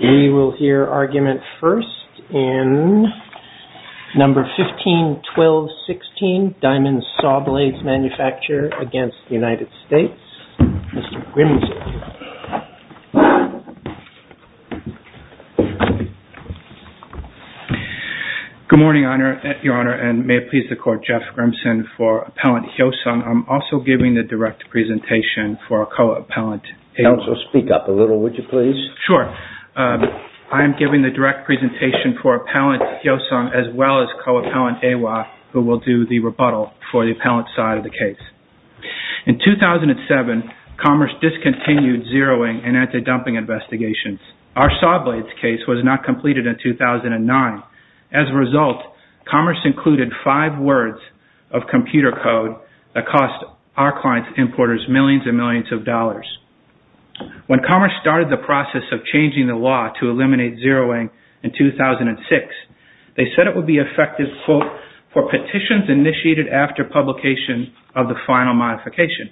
We will hear argument first in number 15-12-16, Diamond Sawblades Manufacturer against the United States, Mr. Grimson. Good morning, Your Honor, and may it please the Court, Jeff Grimson for Appellant Hyosung. I'm also giving the direct presentation for a co-appellant. Counsel, speak up a little, would you please? Sure. I'm giving the direct presentation for Appellant Hyosung as well as co-appellant Awa, who will do the rebuttal for the appellant side of the case. In 2007, Commerce discontinued zeroing and anti-dumping investigations. Our Sawblades case was not completed in 2009. As a result, Commerce included five words of computer code that cost our client importers millions and millions of dollars. When Commerce started the process of changing the law to eliminate zeroing in 2006, they said it would be effective for petitions initiated after publication of the final modification.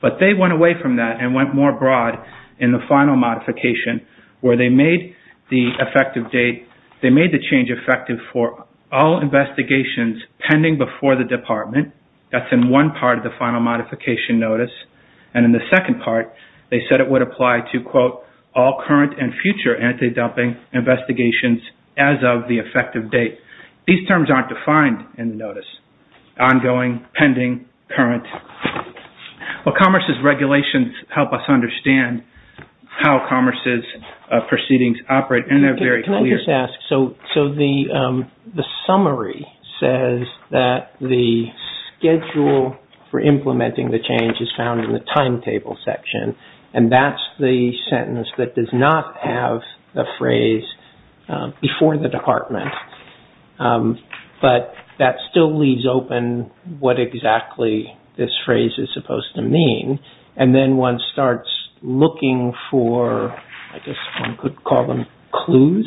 But they went away from that and went more broad in the final modification, where they made the change effective for all investigations pending before the department. That's in one part of the final modification notice. And in the second part, they said it would apply to, quote, all current and future anti-dumping investigations as of the effective date. These terms aren't defined in the notice. Ongoing, pending, current. Well, Commerce's regulations help us understand how Commerce's proceedings operate, and they're very clear. So the summary says that the schedule for implementing the change is found in the timetable section. And that's the sentence that does not have the phrase before the department. But that still leaves open what exactly this phrase is supposed to mean. And then one starts looking for, I guess one could call them clues,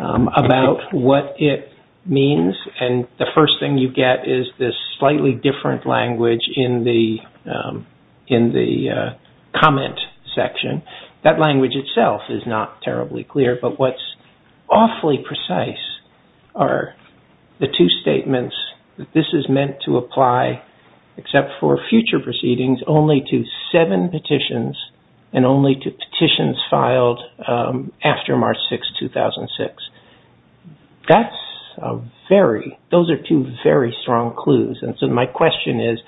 about what it means. And the first thing you get is this slightly different language in the comment section. That language itself is not terribly clear, but what's awfully precise are the two statements that this is meant to apply, except for future proceedings, only to seven petitions and only to petitions filed after March 6, 2006. Those are two very strong clues. And so my question is,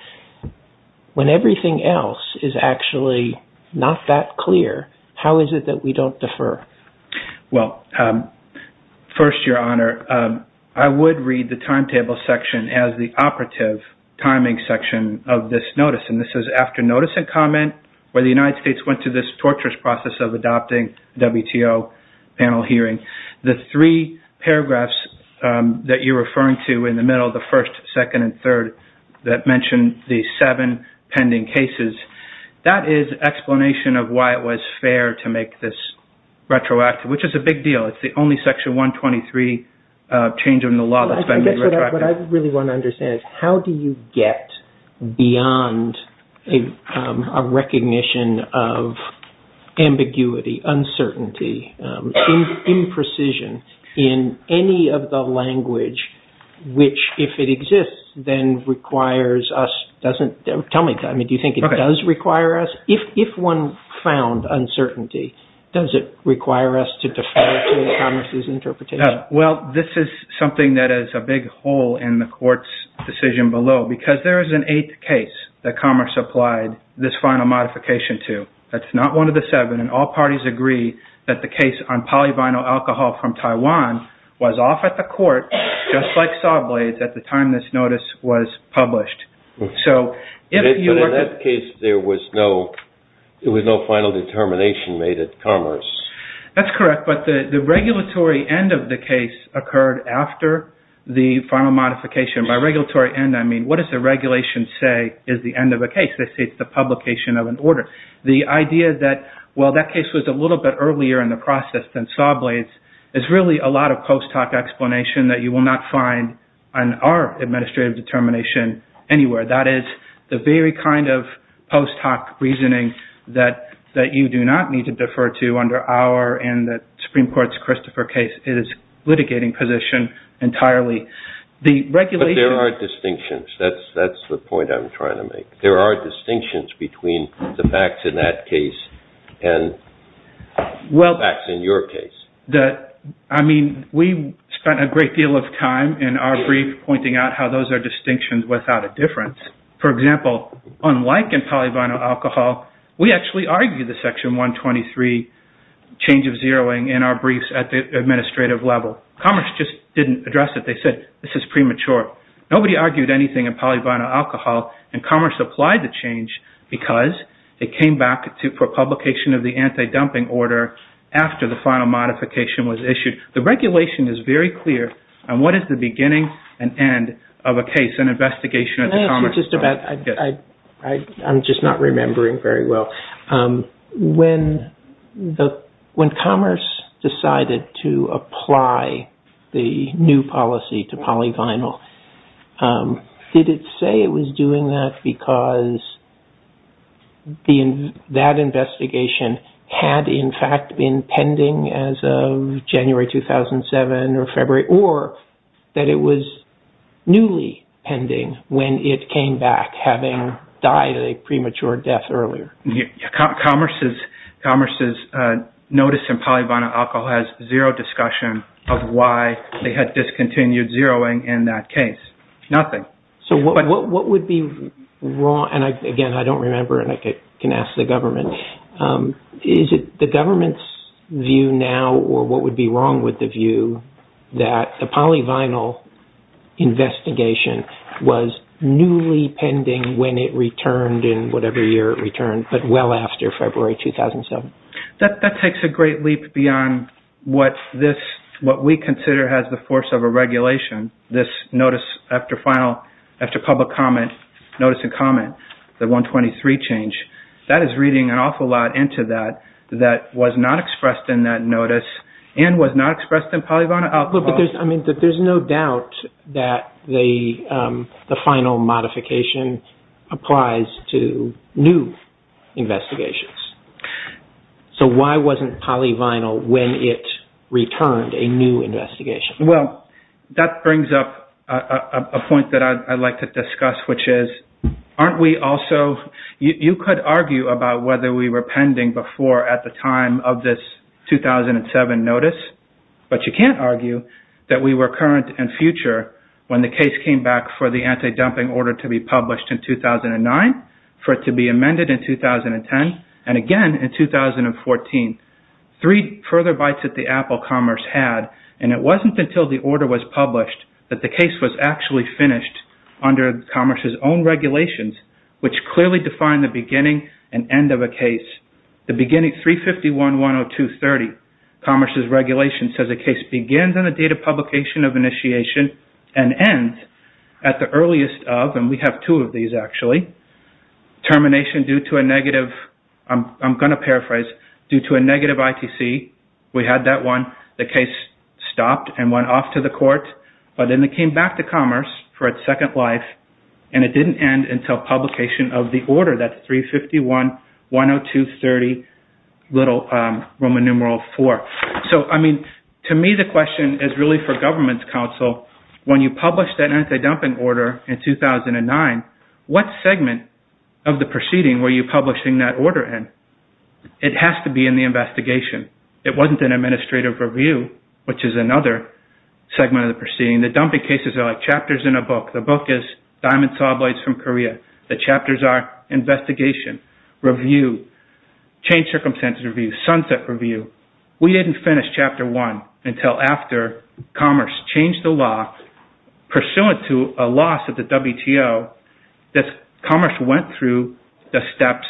when everything else is actually not that clear, how is it that we don't defer? Well, first, Your Honor, I would read the timetable section as the operative timing section of this notice. And this is after notice and comment, where the United States went through this torturous process of adopting WTO panel hearing. The three paragraphs that you're referring to in the middle, the first, second, and third, that mention the seven pending cases, that is explanation of why it was fair to make this retroactive, which is a big deal. It's the only Section 123 change in the law that's been made retroactive. What I really want to understand is how do you get beyond a recognition of ambiguity, uncertainty, imprecision in any of the language which, if it exists, then requires us, doesn't, tell me, do you think it does require us? If one found uncertainty, does it require us to defer to the Congress's interpretation? Well, this is something that is a big hole in the Court's decision below, because there is an eighth case that Commerce applied this final modification to. That's not one of the seven, and all parties agree that the case on polyvinyl alcohol from Taiwan was off at the Court, just like Sawblades, at the time this notice was published. But in that case, there was no final determination made at Commerce. That's correct, but the regulatory end of the case occurred after the final modification. By regulatory end, I mean what does the regulation say is the end of a case? They say it's the publication of an order. The idea that while that case was a little bit earlier in the process than Sawblades, there's really a lot of post hoc explanation that you will not find on our administrative determination anywhere. That is the very kind of post hoc reasoning that you do not need to defer to under our and the Supreme Court's Christopher case. It is a litigating position entirely. But there are distinctions. That's the point I'm trying to make. There are distinctions between the facts in that case and the facts in your case. We spent a great deal of time in our brief pointing out how those are distinctions without a difference. For example, unlike in polyvinyl alcohol, we actually argued the Section 123 change of zeroing in our briefs at the administrative level. Commerce just didn't address it. They said this is premature. Nobody argued anything in polyvinyl alcohol and commerce applied the change because it came back for publication of the anti-dumping order after the final modification was issued. The regulation is very clear on what is the beginning and end of a case, an investigation of the commerce. I'm just not remembering very well. When commerce decided to apply the new policy to polyvinyl, did it say it was doing that because that investigation had in fact been pending as of January 2007 or February It was newly pending when it came back, having died a premature death earlier. Commerce's notice in polyvinyl alcohol has zero discussion of why they had discontinued zeroing in that case. Nothing. Again, I don't remember and I can ask the government. Is it the government's view now or what would be wrong with the view that the polyvinyl investigation was newly pending when it returned in whatever year it returned, but well after February 2007? That takes a great leap beyond what we consider has the force of a regulation. This notice after public comment, notice and comment, the 123 change, that is reading an awful lot into that that was not expressed in that notice and was not expressed in polyvinyl alcohol. But there's no doubt that the final modification applies to new investigations. So why wasn't polyvinyl when it returned a new investigation? Well, that brings up a point that I'd like to discuss, which is aren't we also, you could argue about whether we were pending before at the time of this 2007 notice, but you can't argue that we were current and future when the case came back for the anti-dumping order to be published in 2009, for it to be amended in 2010, and again in 2014. Three further bites at the Apple Commerce had, and it wasn't until the order was published that the case was actually finished under Commerce's own regulations, which clearly defined the beginning and end of a case. The beginning 351.102.30, Commerce's regulation says a case begins on the date of publication of initiation and ends at the earliest of, and we have two of these actually, termination due to a negative, I'm going to paraphrase, due to a negative ITC, we had that one, the case stopped and went off to the court, but then it came back to Commerce for its second life, and it didn't end until publication of the order, that 351.102.30, little Roman numeral four. So, I mean, to me the question is really for government's counsel, when you published that anti-dumping order in 2009, what segment of the proceeding were you publishing that order in? It has to be in the investigation. It wasn't in administrative review, which is another segment of the proceeding. The dumping cases are like chapters in a book. The book is Diamond Sawblades from Korea. The chapters are investigation, review, change circumstances review, sunset review. We didn't finish chapter one until after Commerce changed the law, pursuant to a loss of the WTO, that Commerce went through the steps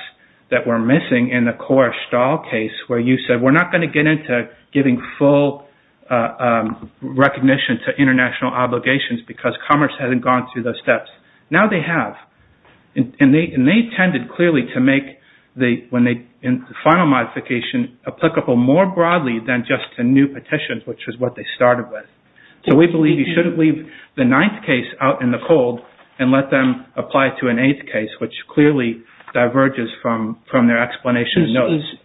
that were missing in the core stall case, where you said we're not going to get into giving full recognition to international obligations because Commerce hasn't gone through those steps. Now they have, and they tended clearly to make the final modification applicable more broadly than just to new petitions, which is what they started with. So we believe you shouldn't leave the ninth case out in the cold and let them apply to an eighth case, which clearly diverges from their explanation.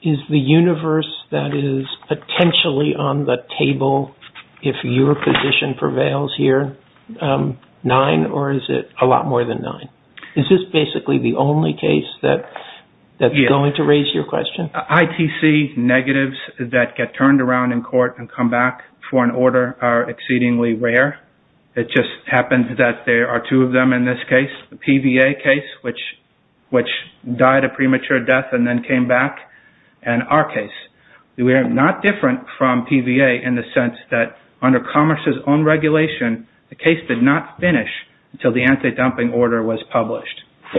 Is the universe that is potentially on the table, if your position prevails here, nine or is it a lot more than nine? Is this basically the only case that's going to raise your question? ITC negatives that get turned around in court and come back for an order are exceedingly rare. It just happens that there are two of them in this case, the PVA case, which died a premature death and then came back, and our case. We are not different from PVA in the sense that under Commerce's own regulation, the case did not finish until the anti-dumping order was published. I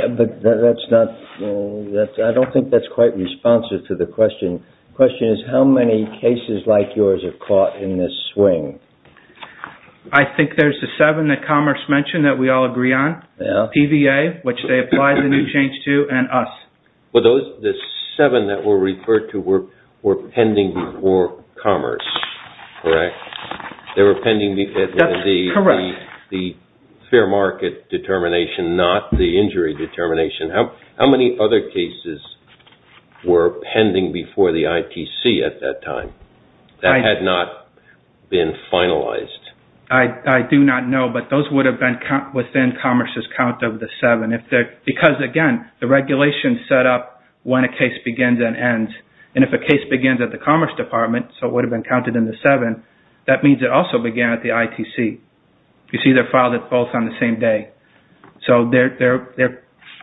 don't think that's quite responsive to the question. The question is how many cases like yours have caught in this swing? I think there's the seven that Commerce mentioned that we all agree on, PVA, which they applied the new change to, and us. Well, the seven that were referred to were pending before Commerce, correct? They were pending because of the fair market determination, not the injury determination. How many other cases were pending before the ITC at that time that had not been finalized? I do not know, but those would have been within Commerce's count of the seven. Because, again, the regulation is set up when a case begins and ends. If a case begins at the Commerce Department, so it would have been counted in the seven, that means it also began at the ITC. You see they filed it both on the same day.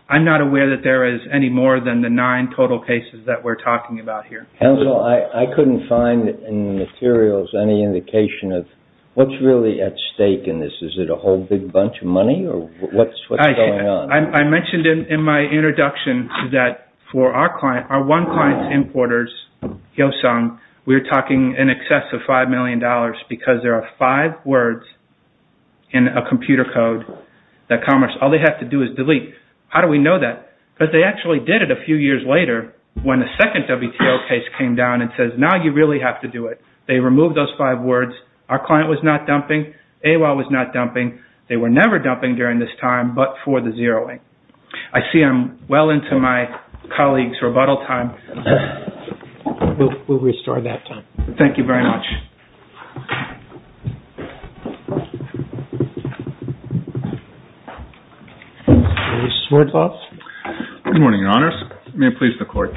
I'm not aware that there is any more than the nine total cases that we're talking about here. Counsel, I couldn't find in the materials any indication of what's really at stake in this. Is it a whole big bunch of money, or what's going on? I mentioned in my introduction that for our one client's importers, Hyosung, we were talking in excess of $5 million because there are five words in a computer code that Commerce, all they have to do is delete. How do we know that? Because they actually did it a few years later when the second WTO case came down and says, now you really have to do it. They removed those five words. Our client was not dumping. AOL was not dumping. They were never dumping during this time but for the zeroing. I see I'm well into my colleague's rebuttal time. We'll restore that time. Thank you very much. Mr. Swerdloff? Good morning, Your Honors. May it please the Court.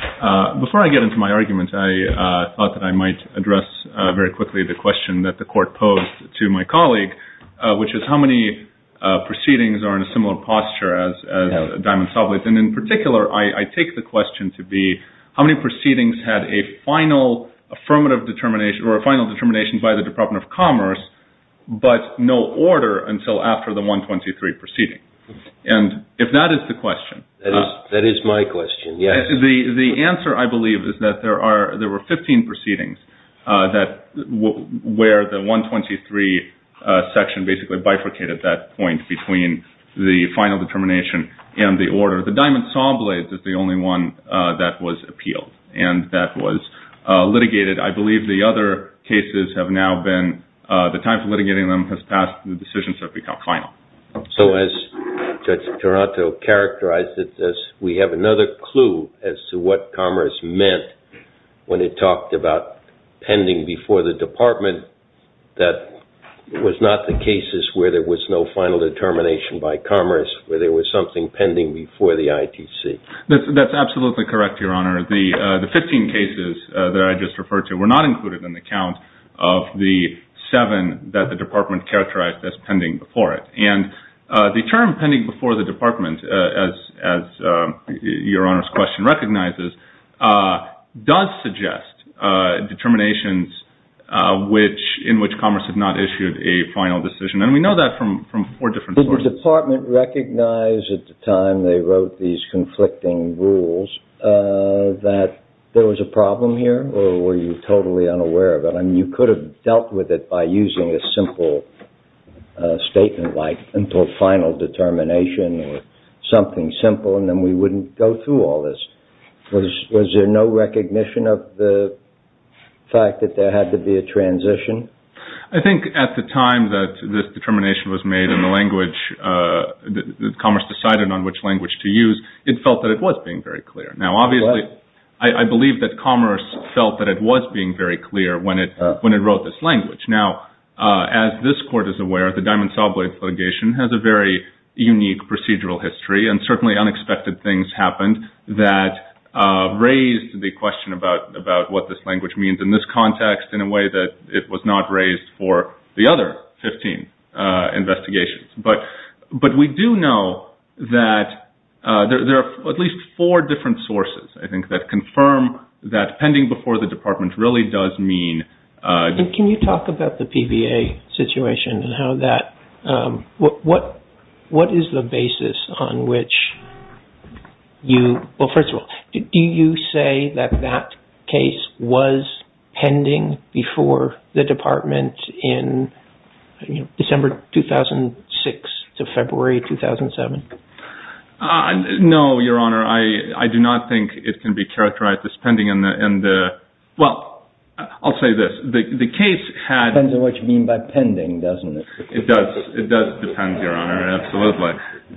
Before I get into my argument, I thought that I might address very quickly the question that the Court posed to my colleague, which is how many proceedings are in a similar posture as Diamond-Soblitz. In particular, I take the question to be how many proceedings had a final affirmative determination or a final determination by the Department of Commerce but no order until after the 123 proceeding. If that is the question. That is my question, yes. The answer, I believe, is that there were 15 proceedings where the 123 section basically bifurcated at that point between the final determination and the order. The Diamond-Soblitz is the only one that was appealed and that was litigated. I believe the other cases have now been, the time for litigating them has passed and the decisions have become final. So as Judge Toronto characterized it, we have another clue as to what Commerce meant when it talked about pending before the Department that was not the cases where there was no final determination by Commerce, where there was something pending before the ITC. That's absolutely correct, Your Honor. The 15 cases that I just referred to were not included in the count of the seven that the Department characterized as pending before it. The term pending before the Department, as Your Honor's question recognizes, does suggest determinations in which Commerce had not issued a final decision. We know that from four different sources. Did the Department recognize at the time they wrote these conflicting rules that there was a problem here or were you totally unaware of it? You could have dealt with it by using a simple statement like until final determination or something simple and then we wouldn't go through all this. Was there no recognition of the fact that there had to be a transition? I think at the time that this determination was made and Commerce decided on which language to use, it felt that it was being very clear. Now, obviously, I believe that Commerce felt that it was being very clear when it wrote this language. Now, as this Court is aware, the Diamond Saw Blade litigation has a very unique procedural history and certainly unexpected things happened that raised the question about what this language means in this context in a way that it was not raised for the other 15 investigations. But we do know that there are at least four different sources, I think, that confirm that pending before the Department really does mean... Can you talk about the PBA situation and how that... What is the basis on which you... No, Your Honor. I do not think it can be characterized as pending in the... Well, I'll say this. The case had... Depends on what you mean by pending, doesn't it? It does depend, Your Honor, absolutely.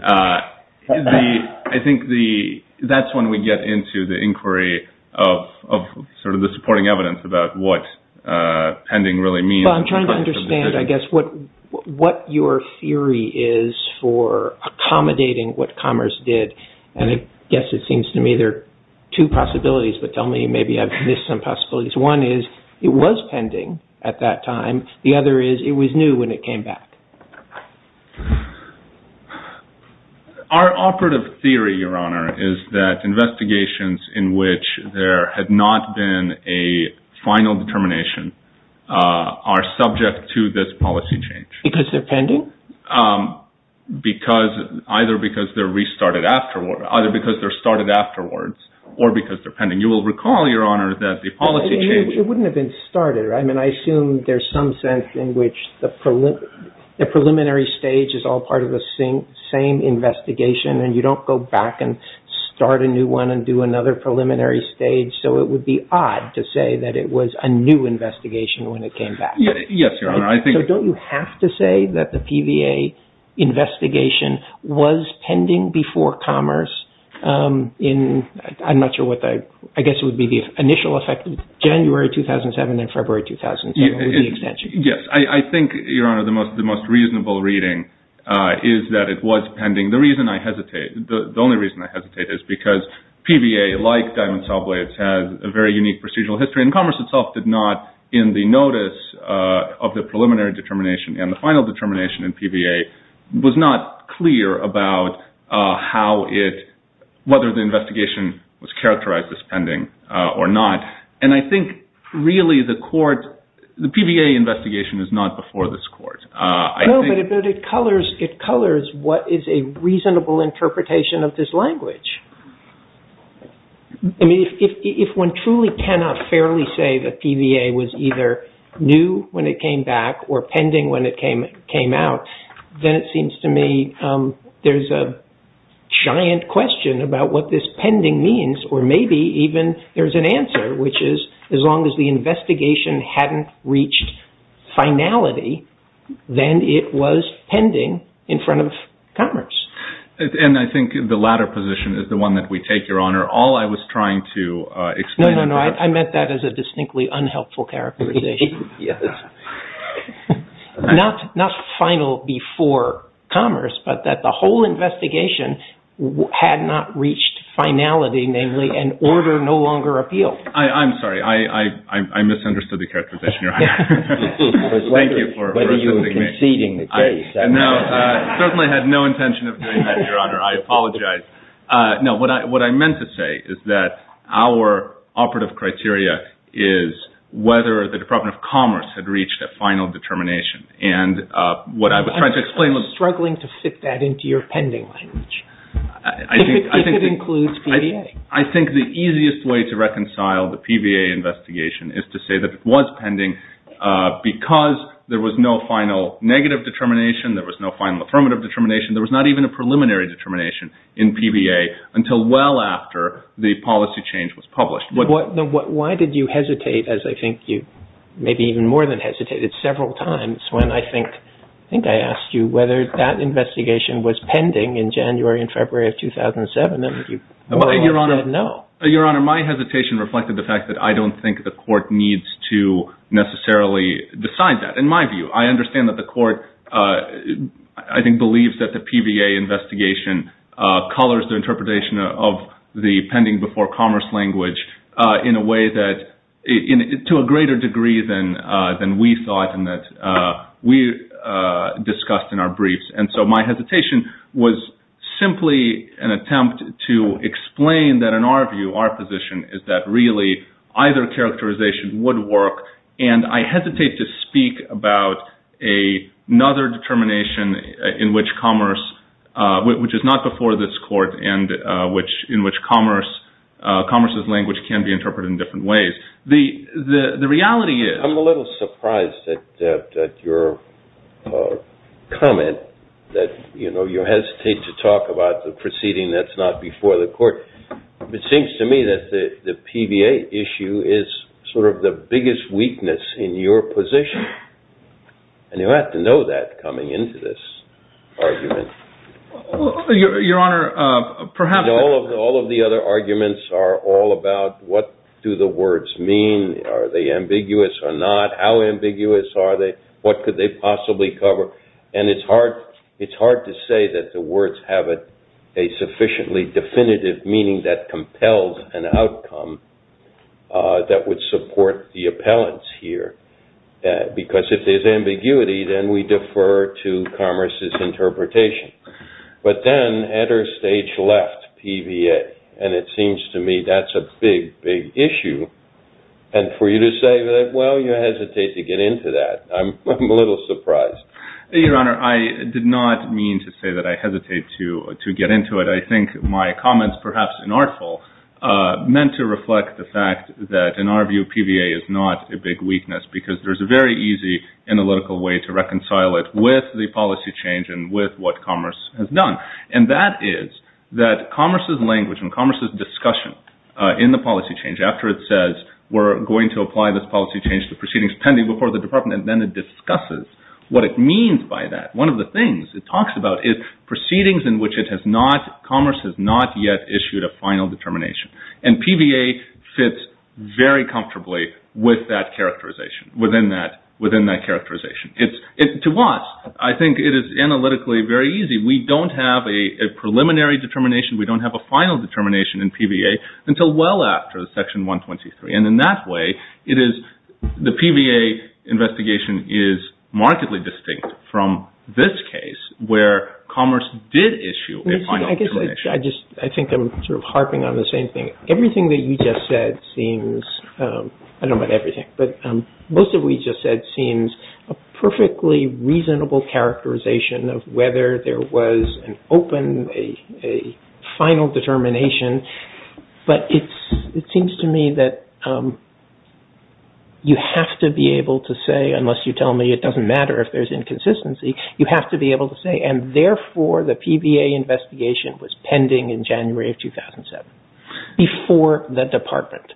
I think that's when we get into the inquiry of sort of the supporting evidence about what pending really means. Well, I'm trying to understand, I guess, what your theory is for accommodating what Commerce did. And I guess it seems to me there are two possibilities, but tell me maybe I've missed some possibilities. One is it was pending at that time. The other is it was new when it came back. Our operative theory, Your Honor, is that investigations in which there had not been a final determination are subject to this policy change. Because they're pending? Either because they're restarted afterwards or because they're pending. You will recall, Your Honor, that the policy change... It wouldn't have been started. I mean, I assume there's some sense in which the preliminary stage is all part of the same investigation and you don't go back and start a new one and do another preliminary stage. So it would be odd to say that it was a new investigation when it came back. Yes, Your Honor. So don't you have to say that the PVA investigation was pending before Commerce in... I'm not sure what the... I guess it would be the initial effect of January 2007 and February 2007 with the extension. Yes. I think, Your Honor, the most reasonable reading is that it was pending. The only reason I hesitate is because PVA, like Diamond Saw Blades, has a very unique procedural history and Commerce itself did not, in the notice of the preliminary determination and the final determination in PVA, was not clear about whether the investigation was characterized as pending or not. And I think, really, the court... The PVA investigation is not before this court. No, but it colors what is a reasonable interpretation of this language. I mean, if one truly cannot fairly say that PVA was either new when it came back or pending when it came out, then it seems to me there's a giant question about what this pending means or maybe even there's an answer, which is as long as the investigation hadn't reached finality, then it was pending in front of Commerce. And I think the latter position is the one that we take, Your Honor. All I was trying to explain... No, no, no. I meant that as a distinctly unhelpful characterization. Not final before Commerce, but that the whole investigation had not reached finality, namely, and order no longer appealed. I'm sorry. I misunderstood the characterization, Your Honor. Thank you for assisting me. I certainly had no intention of doing that, Your Honor. I apologize. No, what I meant to say is that our operative criteria is whether the Department of Commerce had reached a final determination. And what I was trying to explain was... I'm struggling to fit that into your pending language, if it includes PVA. I think the easiest way to reconcile the PVA investigation is to say that it was pending because there was no final negative determination, there was no final affirmative determination, there was not even a preliminary determination in PVA until well after the policy change was published. Why did you hesitate, as I think you maybe even more than hesitated several times, when I think I asked you whether that investigation was pending in January and February of 2007? And you said no. Your Honor, my hesitation reflected the fact that I don't think the court needs to necessarily decide that. In my view, I understand that the court, I think, believes that the PVA investigation colors the interpretation of the pending before commerce language in a way that, to a greater degree than we thought and that we discussed in our briefs. And so my hesitation was simply an attempt to explain that, in our view, our position is that really either characterization would work. And I hesitate to speak about another determination in which commerce, which is not before this court, and in which commerce's language can be interpreted in different ways. The reality is- I'm a little surprised at your comment that, you know, you hesitate to talk about the proceeding that's not before the court. It seems to me that the PVA issue is sort of the biggest weakness in your position. And you have to know that coming into this argument. Your Honor, perhaps- All of the other arguments are all about what do the words mean? Are they ambiguous or not? How ambiguous are they? What could they possibly cover? And it's hard to say that the words have a sufficiently definitive meaning that compels an outcome that would support the appellants here. Because if there's ambiguity, then we defer to commerce's interpretation. But then, enter stage left PVA. And it seems to me that's a big, big issue. And for you to say that, well, you hesitate to get into that. I'm a little surprised. Your Honor, I did not mean to say that I hesitate to get into it. I think my comments, perhaps inartful, meant to reflect the fact that, in our view, PVA is not a big weakness because there's a very easy analytical way to reconcile it with the policy change and with what commerce has done. And that is that commerce's language and commerce's discussion in the policy change, after it says we're going to apply this policy change to proceedings pending before the department, and then it discusses what it means by that. One of the things it talks about is proceedings in which it has not, commerce has not yet issued a final determination. And PVA fits very comfortably with that characterization, within that characterization. To us, I think it is analytically very easy. We don't have a preliminary determination. We don't have a final determination in PVA until well after Section 123. And in that way, the PVA investigation is markedly distinct from this case, where commerce did issue a final determination. I think I'm sort of harping on the same thing. Everything that you just said seems, I don't mean everything, but most of what you just said seems a perfectly reasonable characterization of whether there was an open, a final determination. But it seems to me that you have to be able to say, unless you tell me it doesn't matter if there's inconsistency, you have to be able to say, and therefore the PVA investigation was pending in January of 2007, before the department.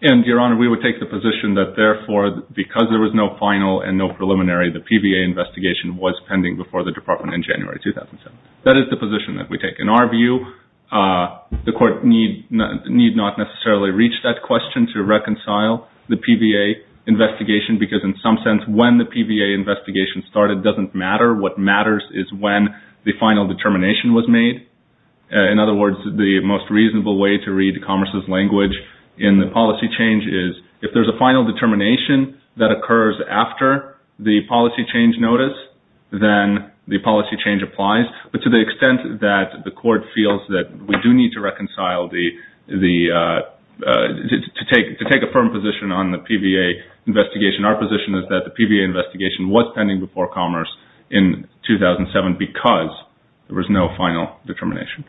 And, Your Honor, we would take the position that, therefore, because there was no final and no preliminary, the PVA investigation was pending before the department in January 2007. That is the position that we take. In our view, the Court need not necessarily reach that question to reconcile the PVA investigation, because in some sense, when the PVA investigation started doesn't matter. What matters is when the final determination was made. In other words, the most reasonable way to read commerce's language in the policy change is, if there's a final determination that occurs after the policy change notice, then the policy change applies. But to the extent that the Court feels that we do need to reconcile the, to take a firm position on the PVA investigation, our position is that the PVA investigation was pending before commerce in 2007, because there was no final determination.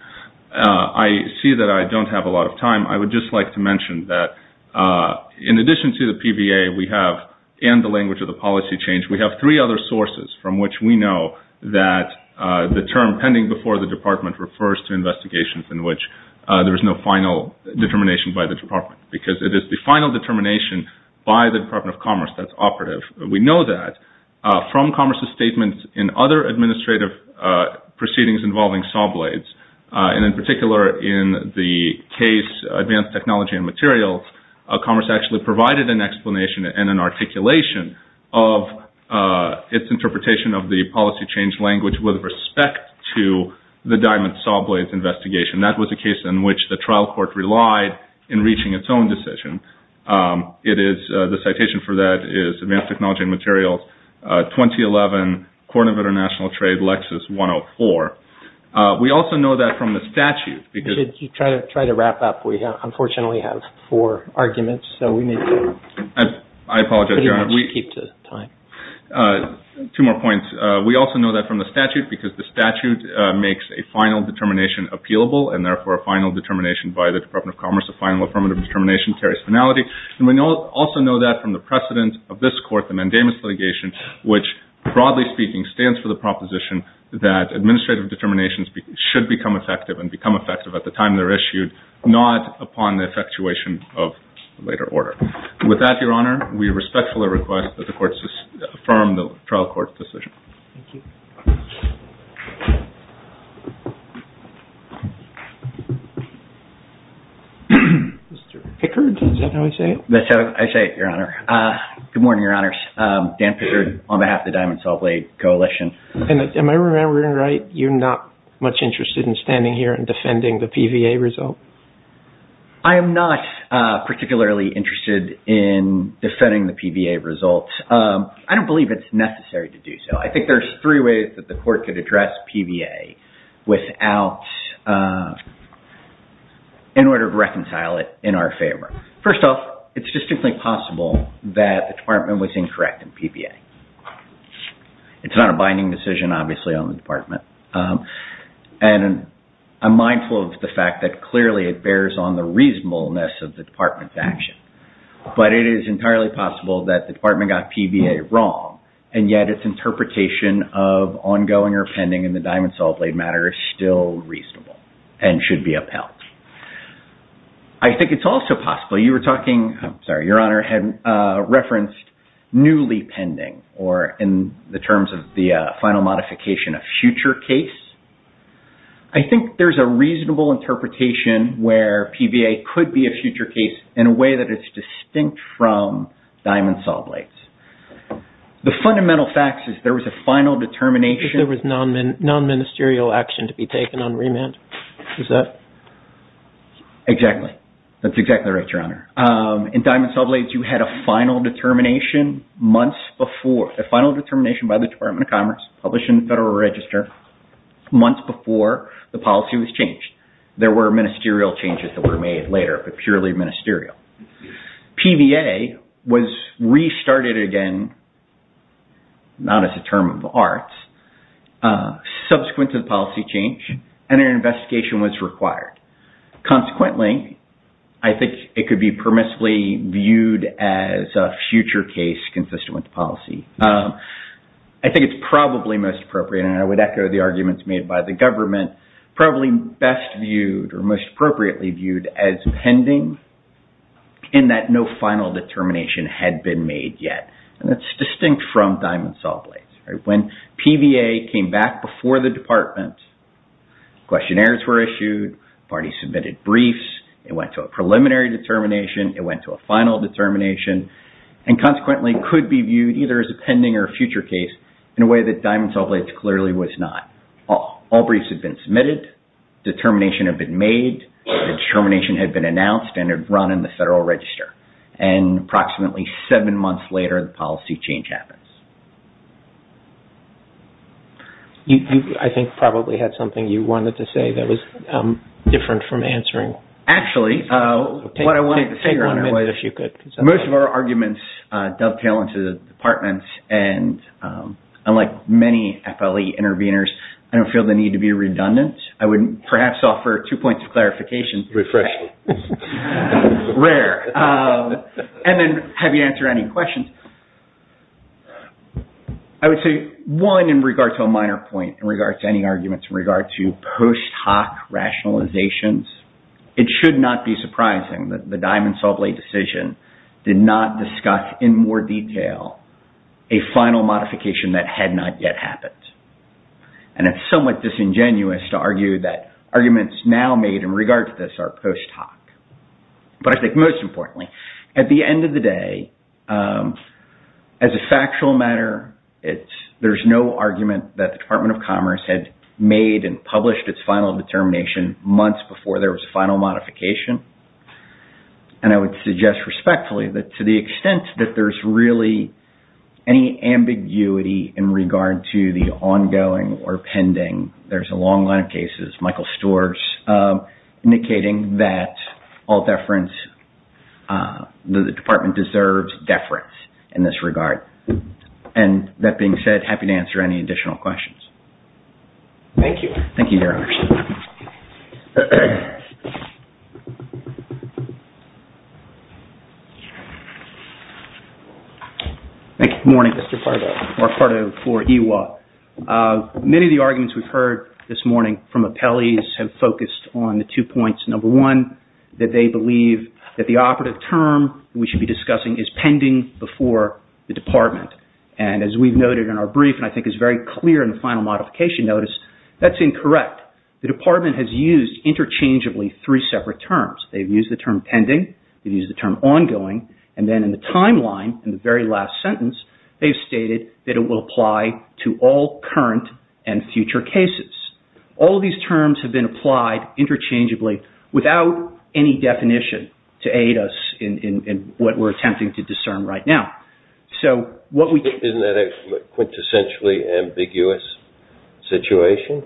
I see that I don't have a lot of time. I would just like to mention that, in addition to the PVA we have, and the language of the policy change, we have three other sources from which we know that the term pending before the department refers to investigations in which there was no final determination by the department, because it is the final determination by the Department of Commerce that's operative. We know that from commerce's statements in other administrative proceedings involving saw blades, and in particular in the case Advanced Technology and Materials, commerce actually provided an explanation and an articulation of its interpretation of the policy change language with respect to the diamond saw blades investigation. That was a case in which the trial court relied in reaching its own decision. The citation for that is Advanced Technology and Materials, 2011, Court of International Trade, Lexis 104. We also know that from the statute. If you try to wrap up, we unfortunately have four arguments, so we need to keep to time. I apologize, Your Honor. Two more points. We also know that from the statute, because the statute makes a final determination appealable, and therefore a final determination by the Department of Commerce, a final affirmative determination carries finality. And we also know that from the precedent of this court, the mandamus litigation, which, broadly speaking, stands for the proposition that administrative determinations should become effective and become effective at the time they're issued, not upon the effectuation of later order. With that, Your Honor, we respectfully request that the courts affirm the trial court's decision. Thank you. Mr. Pickard, is that how you say it? That's how I say it, Your Honor. Good morning, Your Honors. Dan Pickard on behalf of the Diamond Saw Blade Coalition. Am I remembering right, you're not much interested in standing here and defending the PVA result? I am not particularly interested in defending the PVA result. I don't believe it's necessary to do so. I think there's three ways that the court could address PVA in order to reconcile it in our favor. First off, it's distinctly possible that the department was incorrect in PVA. It's not a binding decision, obviously, on the department. And I'm mindful of the fact that clearly it bears on the reasonableness of the department's action. But it is entirely possible that the department got PVA wrong, and yet its interpretation of ongoing or pending in the Diamond Saw Blade matter is still reasonable and should be upheld. I think it's also possible, you were talking, I'm sorry, Your Honor, had referenced newly pending or in the terms of the final modification, a future case. I think there's a reasonable interpretation where PVA could be a future case in a way that it's distinct from Diamond Saw Blades. The fundamental fact is there was a final determination. There was non-ministerial action to be taken on remand. Is that? Exactly. That's exactly right, Your Honor. In Diamond Saw Blades, you had a final determination months before, a final determination by the Department of Commerce, published in the Federal Register, months before the policy was changed. There were ministerial changes that were made later, but purely ministerial. PVA was restarted again, not as a term of the arts, subsequent to the policy change, and an investigation was required. Consequently, I think it could be permissibly viewed as a future case consistent with the policy. I think it's probably most appropriate, and I would echo the arguments made by the government, probably best viewed or most appropriately viewed as pending in that no final determination had been made yet. That's distinct from Diamond Saw Blades. When PVA came back before the department, questionnaires were issued, parties submitted briefs, it went to a preliminary determination, it went to a final determination, and consequently could be viewed either as a pending or a future case in a way that Diamond Saw Blades clearly was not. All briefs had been submitted, determination had been made, the determination had been announced and had run in the Federal Register. Approximately seven months later, the policy change happens. I think you probably had something you wanted to say that was different from answering. Actually, what I wanted to say was most of our arguments dovetail into the departments, and unlike many FLE intervenors, I don't feel the need to be redundant. I would perhaps offer two points of clarification. Refreshing. Rare. And then have you answered any questions? I would say one in regard to a minor point in regard to any arguments in regard to post hoc rationalizations, it should not be surprising that the Diamond Saw Blade decision did not discuss in more detail a final modification that had not yet happened. And it's somewhat disingenuous to argue that arguments now made in regard to this are post hoc. But I think most importantly, at the end of the day, as a factual matter, there's no argument that the Department of Commerce had made and published its final determination months before there was a final modification. And I would suggest respectfully that to the extent that there's really any ambiguity in regard to the ongoing or pending, there's a long line of cases, Michael Storrs, indicating that the department deserves deference in this regard. And that being said, happy to answer any additional questions. Thank you. Thank you, Your Honors. Thank you. Good morning. Mr. Fardow. Mark Fardow for EWA. Many of the arguments we've heard this morning from appellees have focused on the two points. Number one, that they believe that the operative term we should be discussing is pending before the department. And as we've noted in our brief and I think is very clear in the final modification notice, that's incorrect. The department has used interchangeably three separate terms. They've used the term pending. They've used the term ongoing. And then in the timeline, in the very last sentence, they've stated that it will apply to all current and future cases. All of these terms have been applied interchangeably without any definition to aid us in what we're attempting to discern right now. Isn't that a quintessentially ambiguous situation?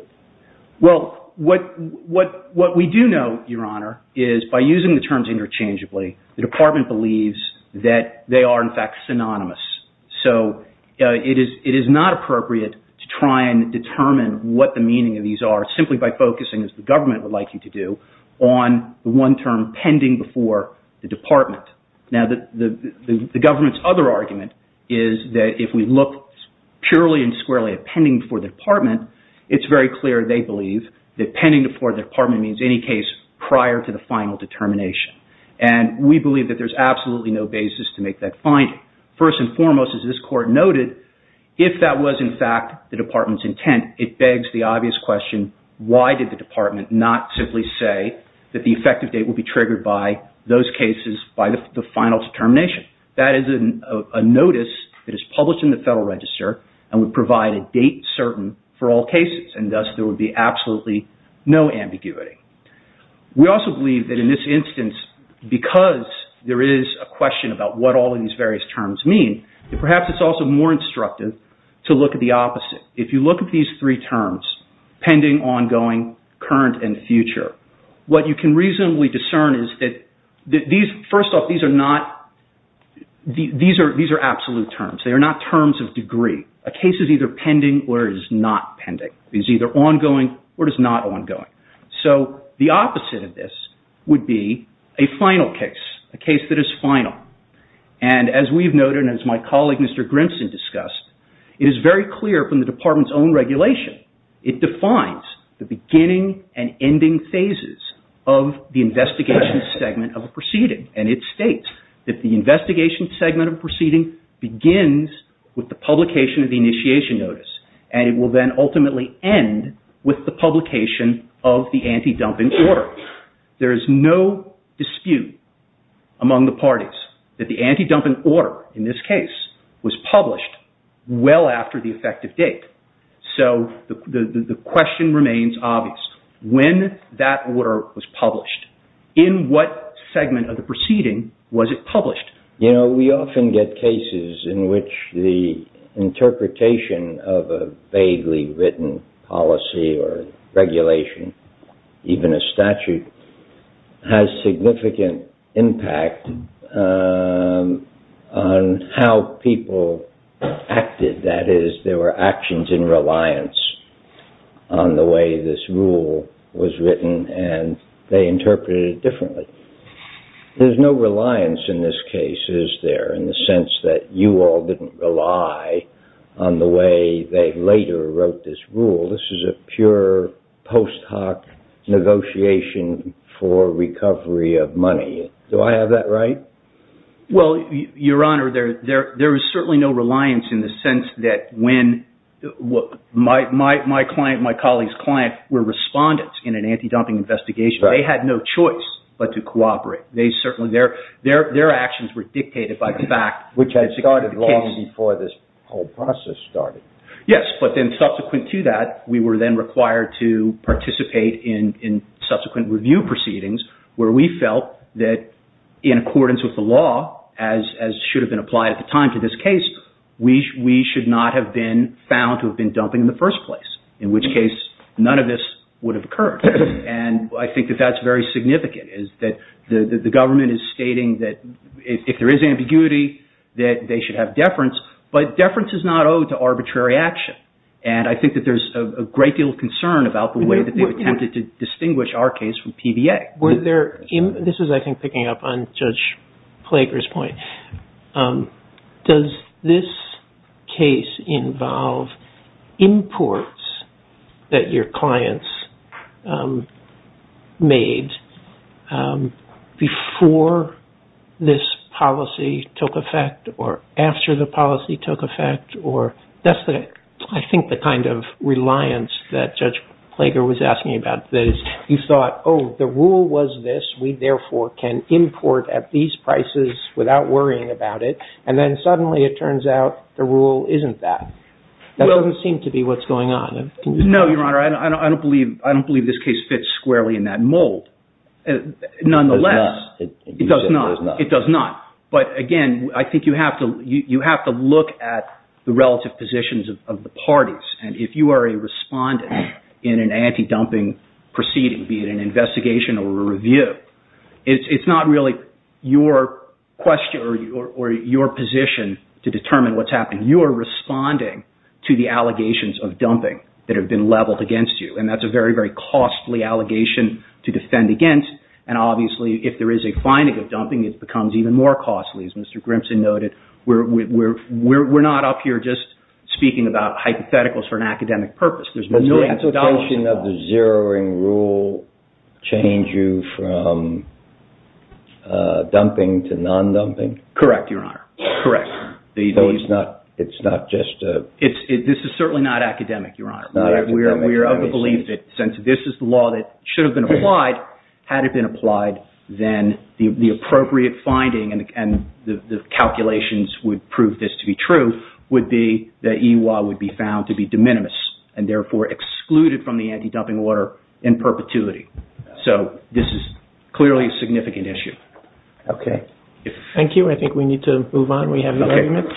Well, what we do know, Your Honor, is by using the terms interchangeably, the department believes that they are, in fact, synonymous. So it is not appropriate to try and determine what the meaning of these are simply by focusing, as the government would like you to do, on the one term pending before the department. Now, the government's other argument is that if we look purely and squarely at pending before the department, it's very clear they believe that pending before the department means any case prior to the final determination. And we believe that there's absolutely no basis to make that finding. First and foremost, as this Court noted, if that was, in fact, the department's intent, it begs the obvious question, why did the department not simply say that the effective date would be triggered by those cases by the final determination? That is a notice that is published in the Federal Register and would provide a date certain for all cases. And thus, there would be absolutely no ambiguity. We also believe that in this instance, because there is a question about what all of these various terms mean, perhaps it's also more instructive to look at the opposite. If you look at these three terms, pending, ongoing, current, and future, what you can reasonably discern is that, first off, these are absolute terms. They are not terms of degree. A case is either pending or it is not pending. It is either ongoing or it is not ongoing. So the opposite of this would be a final case, a case that is final. And as we've noted and as my colleague, Mr. Grimson, discussed, it is very clear from the department's own regulation, it defines the beginning and ending phases of the investigation segment of a proceeding. And it states that the investigation segment of a proceeding begins with the publication of the initiation notice and it will then ultimately end with the publication of the anti-dumping order. There is no dispute among the parties that the anti-dumping order, in this case, was published well after the effective date. So the question remains obvious. When that order was published, in what segment of the proceeding was it published? You know, we often get cases in which the interpretation of a vaguely written policy or regulation, even a statute, has significant impact on how people acted. That is, there were actions in reliance on the way this rule was written and they interpreted it differently. There's no reliance in this case, is there, in the sense that you all didn't rely on the way they later wrote this rule. This is a pure post hoc negotiation for recovery of money. Do I have that right? Well, Your Honor, there is certainly no reliance in the sense that when my client and my colleague's client were respondents in an anti-dumping investigation, they had no choice but to cooperate. Their actions were dictated by the fact. Which had started long before this whole process started. Yes, but then subsequent to that, we were then required to participate in subsequent review proceedings where we felt that in accordance with the law, as should have been applied at the time to this case, we should not have been found to have been dumping in the first place, in which case none of this would have occurred. And I think that that's very significant, is that the government is stating that if there is ambiguity, that they should have deference, but deference is not owed to arbitrary action. And I think that there's a great deal of concern about the way that they attempted to distinguish our case from PBA. This is, I think, picking up on Judge Plager's point. Does this case involve imports that your clients made before this policy took effect or after the policy took effect? That's, I think, the kind of reliance that Judge Plager was asking about. That is, you thought, oh, the rule was this. We, therefore, can import at these prices without worrying about it. And then suddenly it turns out the rule isn't that. That doesn't seem to be what's going on. No, Your Honor. I don't believe this case fits squarely in that mold. Nonetheless, it does not. It does not. But, again, I think you have to look at the relative positions of the parties. And if you are a respondent in an anti-dumping proceeding, be it an investigation or a review, it's not really your question or your position to determine what's happening. You are responding to the allegations of dumping that have been leveled against you. And that's a very, very costly allegation to defend against. And, obviously, if there is a finding of dumping, it becomes even more costly. As Mr. Grimson noted, we're not up here just speaking about hypotheticals for an academic purpose. There's millions of dollars involved. Does the application of the zeroing rule change you from dumping to non-dumping? Correct, Your Honor. Correct. So it's not just a – This is certainly not academic, Your Honor. We are of the belief that since this is the law that should have been applied, had it been applied, then the appropriate finding and the calculations would prove this to be true would be that E.Y. would be found to be de minimis and, therefore, excluded from the anti-dumping order in perpetuity. So this is clearly a significant issue. Okay. Thank you. I think we need to move on. We have no argument. Okay.